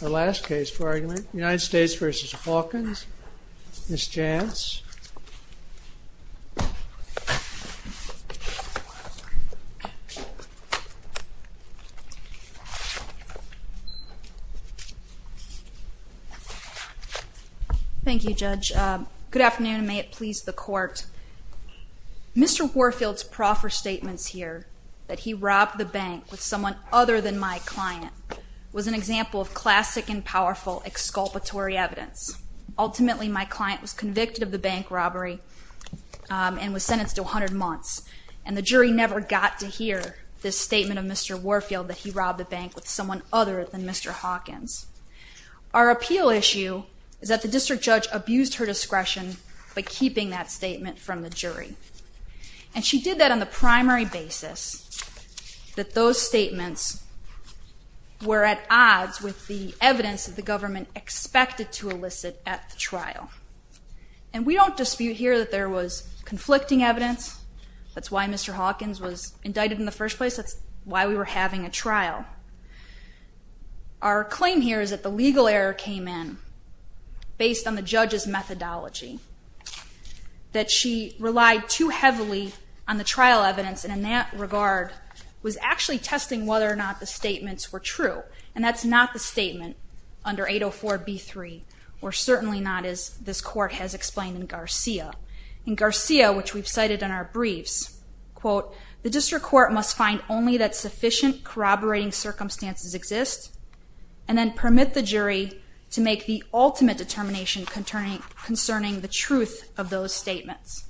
The last case for argument, United States v. Hawkins, Ms. Jantz. Thank you, Judge. Good afternoon, and may it please the Court. Mr. Warfield's proffer statements here, that he robbed the bank with someone other than my client, was an example of classic and powerful exculpatory evidence. Ultimately, my client was convicted of the bank robbery and was sentenced to 100 months, and the jury never got to hear this statement of Mr. Warfield, that he robbed the bank with someone other than Mr. Hawkins. Our appeal issue is that the district judge abused her discretion by keeping that statement from the jury. And she did that on the primary basis that those statements were at odds with the evidence that the government expected to elicit at the trial. And we don't dispute here that there was conflicting evidence. That's why Mr. Hawkins was indicted in the first place. That's why we were having a trial. Our claim here is that the legal error came in based on the judge's methodology, that she relied too heavily on the trial evidence, and in that regard was actually testing whether or not the statements were true. And that's not the statement under 804b3, or certainly not as this Court has explained in Garcia. In Garcia, which we've cited in our briefs, the district court must find only that sufficient corroborating circumstances exist and then permit the jury to make the ultimate determination concerning the truth of those statements.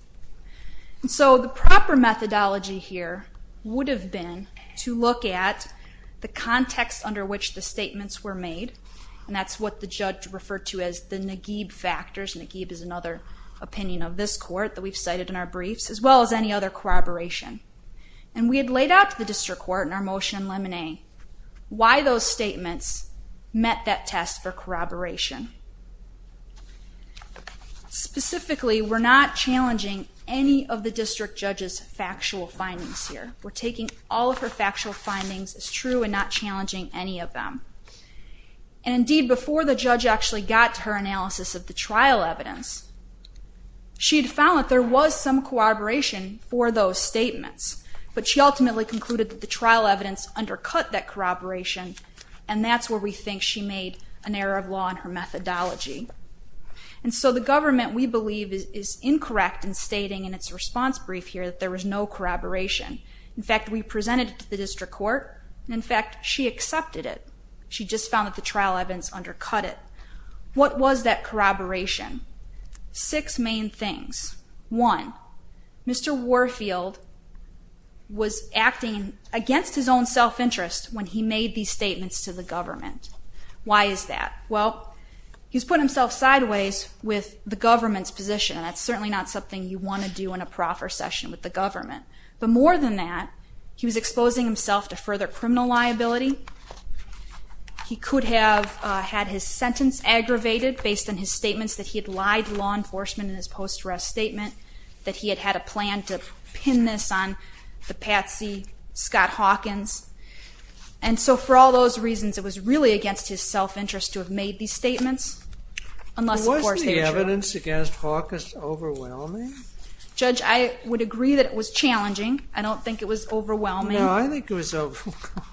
And so the proper methodology here would have been to look at the context under which the statements were made, and that's what the judge referred to as the Naguib factors. Naguib is another opinion of this Court that we've cited in our briefs, as well as any other corroboration. And we had laid out to the district court in our motion limine why those statements met that test for corroboration. Specifically, we're not challenging any of the district judge's factual findings here. We're taking all of her factual findings as true and not challenging any of them. And indeed, before the judge actually got to her analysis of the trial evidence, she had found that there was some corroboration for those statements, but she ultimately concluded that the trial evidence undercut that corroboration, and that's where we think she made an error of law in her methodology. And so the government, we believe, is incorrect in stating in its response brief here that there was no corroboration. In fact, we presented it to the district court, and in fact, she accepted it. She just found that the trial evidence undercut it. What was that corroboration? Six main things. One, Mr. Warfield was acting against his own self-interest when he made these statements to the government. Why is that? Well, he's put himself sideways with the government's position, and that's certainly not something you want to do in a proffer session with the government. But more than that, he was exposing himself to further criminal liability. He could have had his sentence aggravated based on his statements that he had lied to law enforcement in his post-arrest statement, that he had had a plan to pin this on the patsy Scott Hawkins. And so for all those reasons, it was really against his self-interest to have made these statements, unless, of course, they were true. Was the evidence against Hawkins overwhelming? Judge, I would agree that it was challenging. I don't think it was overwhelming. No, I think it was overwhelming.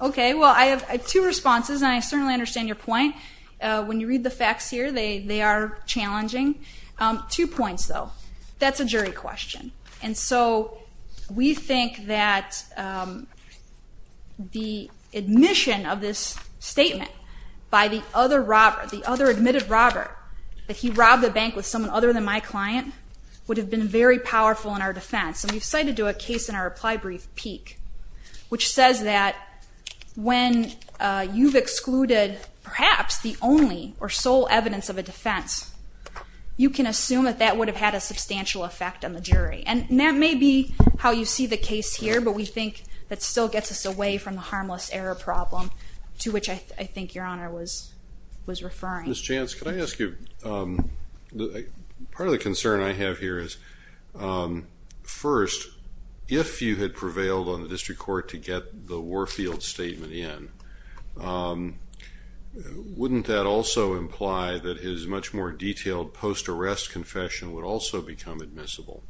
Okay. Well, I have two responses, and I certainly understand your point. When you read the facts here, they are challenging. Two points, though. That's a jury question. And so we think that the admission of this statement by the other admitted robber, that he robbed a bank with someone other than my client, would have been very powerful in our defense. And we've cited to a case in our reply brief, Peek, which says that when you've excluded perhaps the only or sole evidence of a defense, you can assume that that would have had a substantial effect on the jury. And that may be how you see the case here, but we think that still gets us away from the harmless error problem, to which I think Your Honor was referring. Ms. Chance, could I ask you, part of the concern I have here is, first, if you had prevailed on the district court to get the Warfield statement in, wouldn't that also imply that his much more detailed post-arrest confession would also become admissible?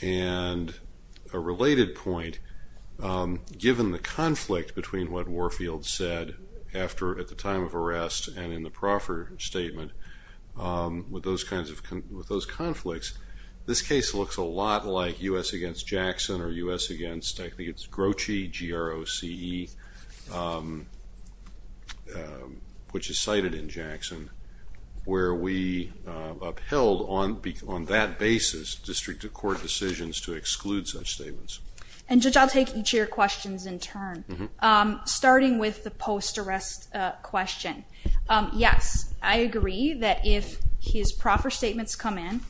And a related point, given the conflict between what Warfield said at the time of arrest and in the proffer statement with those conflicts, this case looks a lot like U.S. against Jackson or U.S. against, I think it's Groche, G-R-O-C-E, which is cited in Jackson, where we upheld on that basis district court decisions to exclude such statements. And Judge, I'll take each of your questions in turn. Starting with the post-arrest question, yes, I agree that if his proffer statements come in,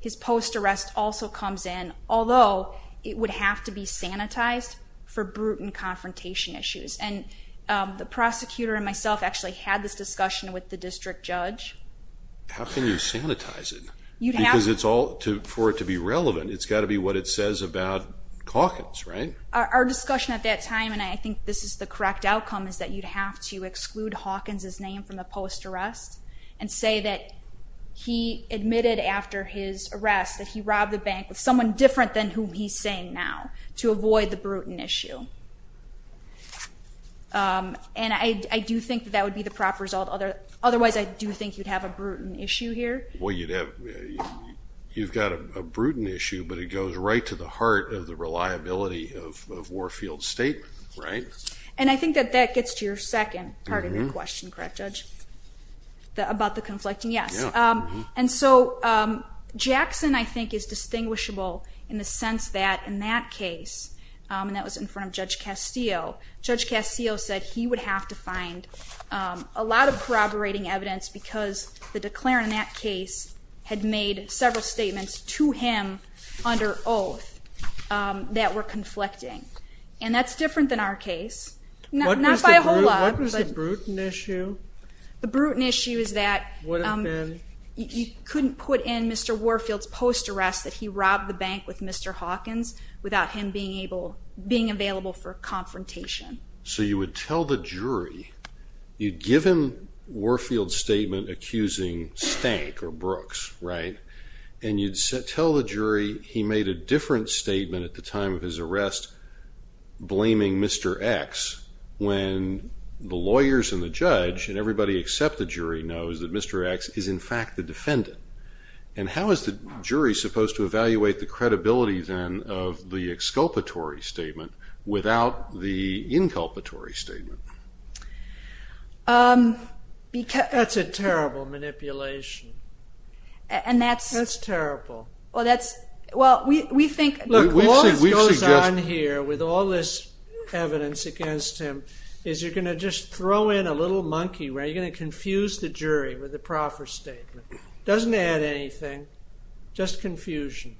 his post-arrest also comes in, although it would have to be sanitized for brute and confrontation issues. And the prosecutor and myself actually had this discussion with the district judge. How can you sanitize it? Because for it to be relevant, it's got to be what it says about Calkins, right? Our discussion at that time, and I think this is the correct outcome, is that you'd have to exclude Calkins' name from the post-arrest and say that he admitted after his arrest that he robbed the bank with someone different than who he's saying now to avoid the brute and issue. And I do think that that would be the proper result. Otherwise, I do think you'd have a brute and issue here. But it goes right to the heart of the reliability of Warfield's statement, right? And I think that that gets to your second part of your question, correct, Judge, about the conflicting? Yes. And so Jackson, I think, is distinguishable in the sense that in that case, and that was in front of Judge Castillo, Judge Castillo said he would have to find a lot of corroborating evidence because the declarant in that case had made several statements to him under oath that were conflicting. And that's different than our case. Not by a whole lot. What was the brute and issue? The brute and issue is that you couldn't put in Mr. Warfield's post-arrest that he robbed the bank with Mr. Hawkins without him being available for confrontation. So you would tell the jury, you'd give him Warfield's statement accusing Stank or Brooks, right? And you'd tell the jury he made a different statement at the time of his arrest blaming Mr. X when the lawyers and the judge and everybody except the jury knows that Mr. X is, in fact, the defendant. of the exculpatory statement without the inculpatory statement. That's a terrible manipulation. That's terrible. Well, we think we've seen this. Look, all that goes on here with all this evidence against him is you're going to just throw in a little monkey, right? You're going to confuse the jury with a proffer statement. It doesn't add anything. Just confusion.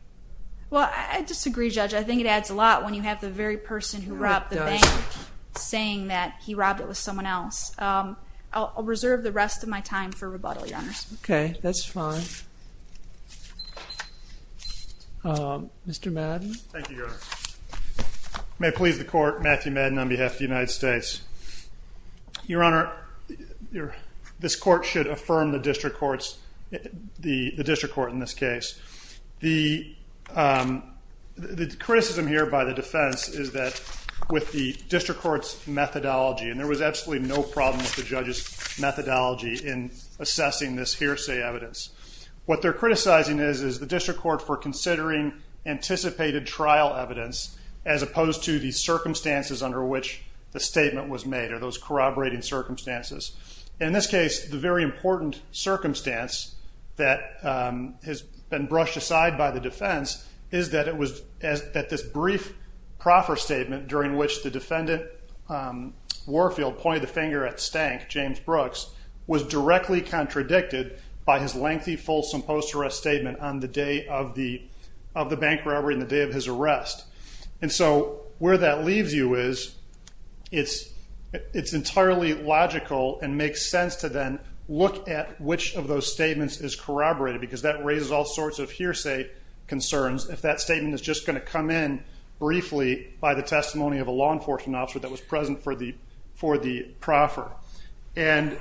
Well, I disagree, Judge. I think it adds a lot when you have the very person who robbed the bank saying that he robbed it with someone else. I'll reserve the rest of my time for rebuttal, Your Honor. Okay, that's fine. Mr. Madden. Thank you, Your Honor. May it please the court, Matthew Madden on behalf of the United States. Your Honor, this court should affirm the district court in this case. The criticism here by the defense is that with the district court's methodology, and there was absolutely no problem with the judge's methodology in assessing this hearsay evidence, what they're criticizing is the district court for considering anticipated trial evidence as opposed to the circumstances under which the statement was made or those corroborating circumstances. In this case, the very important circumstance that has been brushed aside by the defense is that this brief proffer statement during which the defendant, Warfield, pointed the finger at Stank, James Brooks, was directly contradicted by his lengthy, fulsome post-arrest statement on the day of the bank robbery and the day of his arrest. And so where that leaves you is it's entirely logical and makes sense to then look at which of those statements is corroborated because that raises all sorts of hearsay concerns if that statement is just going to come in briefly by the testimony of a law enforcement officer that was present for the proffer. And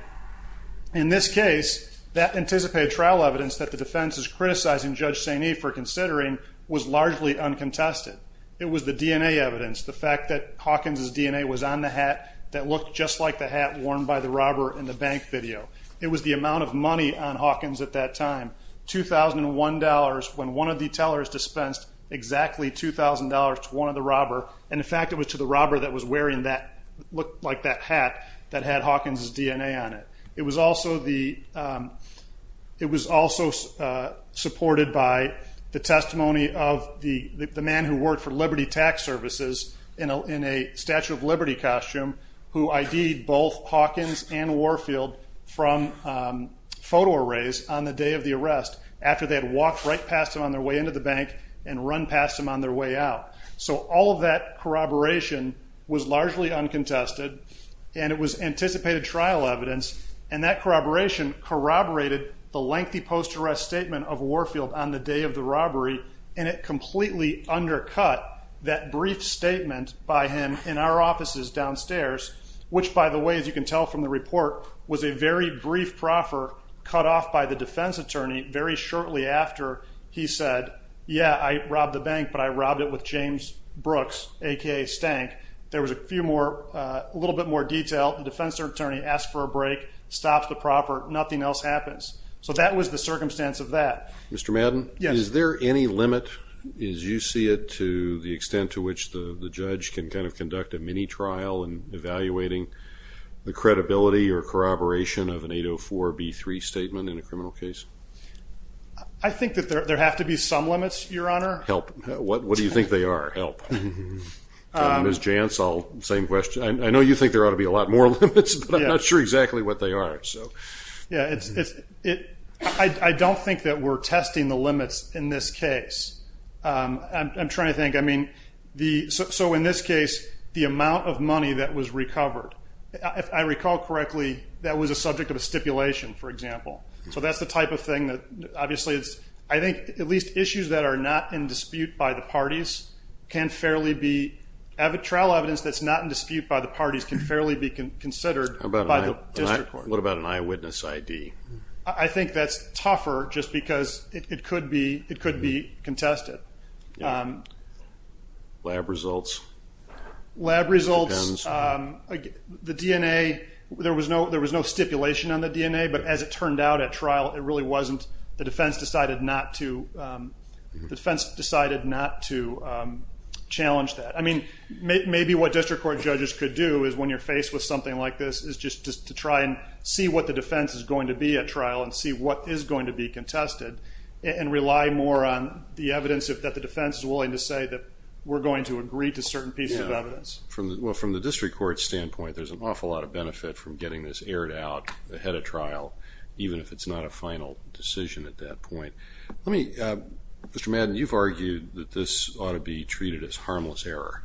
in this case, that anticipated trial evidence that the defense is criticizing Judge Sainee for considering was largely uncontested. It was the DNA evidence, the fact that Hawkins' DNA was on the hat that looked just like the hat worn by the robber in the bank video. It was the amount of money on Hawkins at that time, $2,001, when one of the tellers dispensed exactly $2,000 to one of the robber, and the fact it was to the robber that was wearing that, looked like that hat that had Hawkins' DNA on it. It was also supported by the testimony of the man who worked for Liberty Tax Services in a Statue of Liberty costume who ID'd both Hawkins and Warfield from photo arrays on the day of the arrest after they had walked right past him on their way into the bank and run past him on their way out. So all of that corroboration was largely uncontested, and it was anticipated trial evidence, and that corroboration corroborated the lengthy post-arrest statement of Warfield on the day of the robbery, and it completely undercut that brief statement by him in our offices downstairs, which, by the way, as you can tell from the report, was a very brief proffer cut off by the defense attorney very shortly after he said, yeah, I robbed the bank, but I robbed it with James Brooks, a.k.a. Stank. There was a little bit more detail. The defense attorney asked for a break, stopped the proffer. Nothing else happens. So that was the circumstance of that. Mr. Madden, is there any limit, as you see it, to the extent to which the judge can kind of conduct a mini-trial in evaluating the credibility or corroboration of an 804B3 statement in a criminal case? I think that there have to be some limits, Your Honor. Help. What do you think they are? Help. Ms. Jantz, same question. I know you think there ought to be a lot more limits, but I'm not sure exactly what they are. I don't think that we're testing the limits in this case. I'm trying to think. I mean, so in this case, the amount of money that was recovered, if I recall correctly, that was a subject of a stipulation, for example. So that's the type of thing that obviously is, I think, at least issues that are not in dispute by the parties can fairly be, trial evidence that's not in dispute by the parties can fairly be considered. What about an eyewitness ID? I think that's tougher just because it could be contested. Lab results? Lab results, the DNA, there was no stipulation on the DNA, but as it turned out at trial, it really wasn't. The defense decided not to challenge that. I mean, maybe what district court judges could do is, when you're faced with something like this, is just to try and see what the defense is going to be at trial and see what is going to be contested and rely more on the evidence that the defense is willing to say that we're going to agree to certain pieces of evidence. Well, from the district court standpoint, there's an awful lot of benefit from getting this aired out ahead of trial, even if it's not a final decision at that point. Mr. Madden, you've argued that this ought to be treated as harmless error,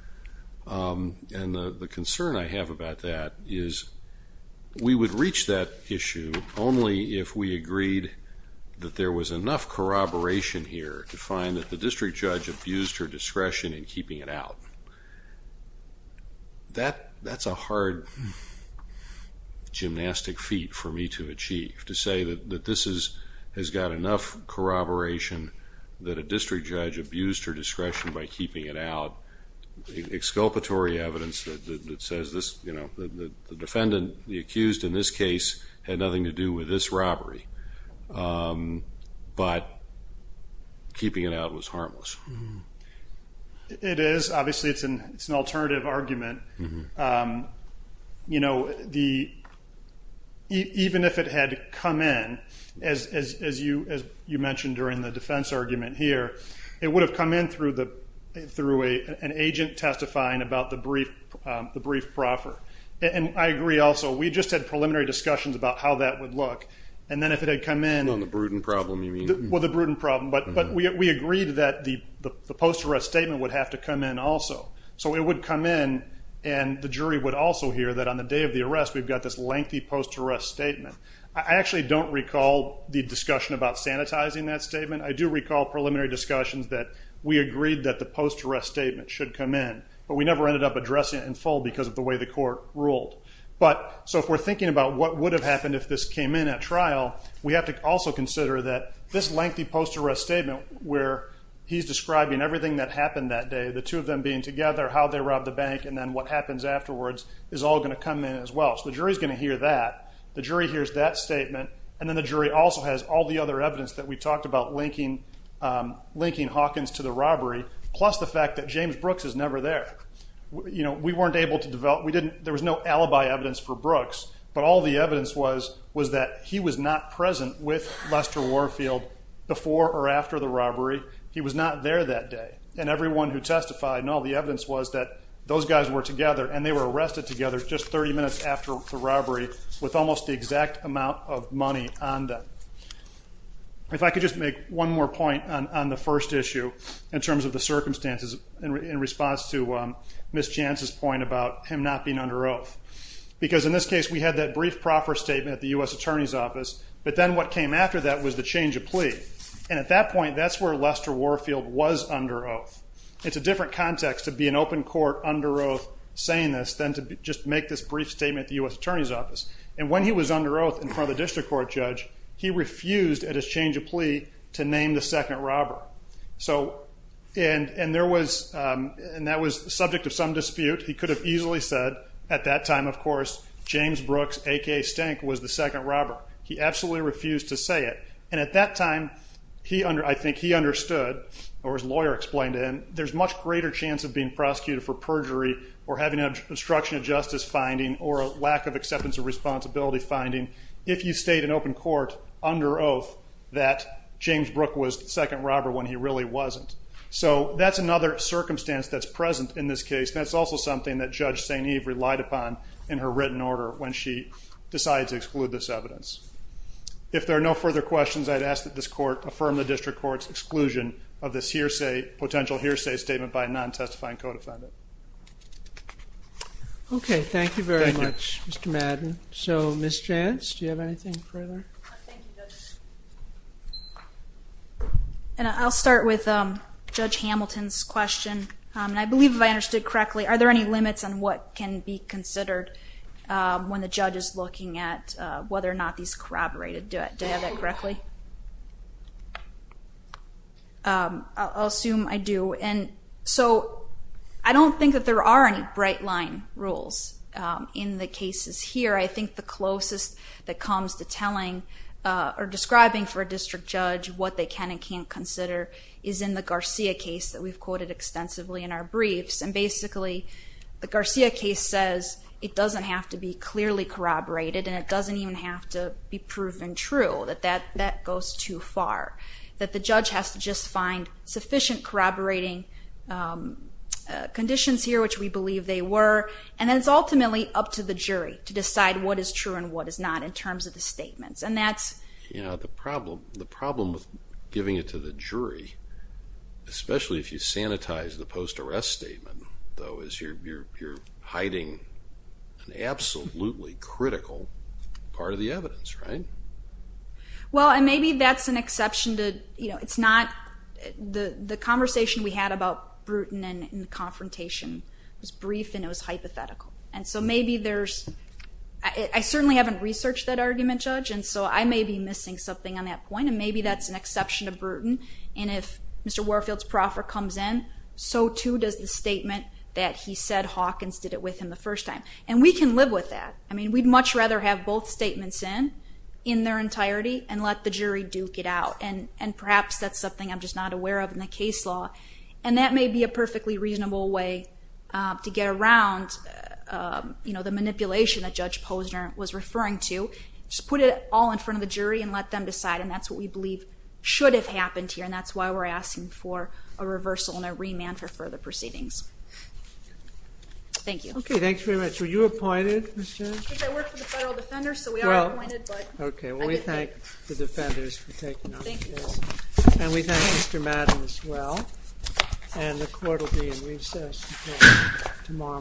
and the concern I have about that is we would reach that issue only if we agreed that there was enough corroboration here to find that the district judge abused her discretion in keeping it out. That's a hard gymnastic feat for me to achieve, to say that this has got enough corroboration that a district judge abused her discretion by keeping it out, exculpatory evidence that says the defendant, the accused in this case, had nothing to do with this robbery, but keeping it out was harmless. It is. Obviously, it's an alternative argument. Even if it had come in, as you mentioned during the defense argument here, it would have come in through an agent testifying about the brief proffer. And I agree also. We just had preliminary discussions about how that would look, and then if it had come in... On the Bruden problem, you mean? Well, the Bruden problem. But we agreed that the post-arrest statement would have to come in also. So it would come in, and the jury would also hear that on the day of the arrest we've got this lengthy post-arrest statement. I actually don't recall the discussion about sanitizing that statement. I do recall preliminary discussions that we agreed that the post-arrest statement should come in, but we never ended up addressing it in full because of the way the court ruled. So if we're thinking about what would have happened if this came in at trial, we have to also consider that this lengthy post-arrest statement where he's describing everything that happened that day, the two of them being together, how they robbed the bank, and then what happens afterwards is all going to come in as well. So the jury's going to hear that. The jury hears that statement, and then the jury also has all the other evidence that we talked about linking Hawkins to the robbery, plus the fact that James Brooks is never there. We weren't able to develop... There was no alibi evidence for Brooks, but all the evidence was that he was not present with Lester Warfield before or after the robbery. He was not there that day. And everyone who testified and all the evidence was that those guys were together, and they were arrested together just 30 minutes after the robbery with almost the exact amount of money on them. If I could just make one more point on the first issue in terms of the circumstances in response to Ms. Jantz's point about him not being under oath. Because in this case, we had that brief proffer statement at the U.S. Attorney's Office, but then what came after that was the change of plea. And at that point, that's where Lester Warfield was under oath. It's a different context to be in open court under oath saying this than to just make this brief statement at the U.S. Attorney's Office. And when he was under oath in front of the district court judge, he refused at his change of plea to name the second robber. And that was the subject of some dispute. He could have easily said at that time, of course, James Brooks, a.k.a. Stank, was the second robber. He absolutely refused to say it. And at that time, I think he understood, or his lawyer explained it, there's a much greater chance of being prosecuted for perjury or having an obstruction of justice finding or a lack of acceptance of responsibility finding if you stayed in open court under oath that James Brooks was the second robber when he really wasn't. So that's another circumstance that's present in this case. That's also something that Judge St. Eve relied upon in her written order when she decided to exclude this evidence. If there are no further questions, I'd ask that this court affirm the district court's exclusion of this potential hearsay statement by a non-testifying co-defendant. Okay, thank you very much, Mr. Madden. So, Ms. Jantz, do you have anything further? Thank you, Judge. I'll start with Judge Hamilton's question. And I believe if I understood correctly, are there any limits on what can be considered when the judge is looking at whether or not these corroborated? Do I have that correctly? I'll assume I do. So I don't think that there are any bright-line rules in the cases here. I think the closest that comes to telling or describing for a district judge what they can and can't consider is in the Garcia case that we've quoted extensively in our briefs. And basically, the Garcia case says it doesn't have to be clearly corroborated and it doesn't even have to be proven true, that that goes too far, that the judge has to just find sufficient corroborating conditions here, which we believe they were. And then it's ultimately up to the jury to decide what is true and what is not in terms of the statements. Yeah, the problem with giving it to the jury, especially if you sanitize the post-arrest statement, though, is you're hiding an absolutely critical part of the evidence, right? Well, and maybe that's an exception to, you know, it's not. The conversation we had about Bruton and the confrontation was brief and it was hypothetical. And so maybe there's – I certainly haven't researched that argument, Judge, and so I may be missing something on that point, and maybe that's an exception to Bruton. And if Mr. Warfield's proffer comes in, so too does the statement that he said Hawkins did it with him the first time. And we can live with that. I mean, we'd much rather have both statements in, in their entirety, and let the jury duke it out. And perhaps that's something I'm just not aware of in the case law. And that may be a perfectly reasonable way to get around, you know, the manipulation that Judge Posner was referring to. Just put it all in front of the jury and let them decide, and that's what we believe should have happened here, and that's why we're asking for a reversal and a remand for further proceedings. Thank you. Okay, thanks very much. Were you appointed, Ms. Jones? I work for the federal defenders, so we are appointed, but I didn't get it. Okay, well, we thank the defenders for taking up the case. Thank you. And we thank Mr. Madden as well. And the court will be in recess until tomorrow morning.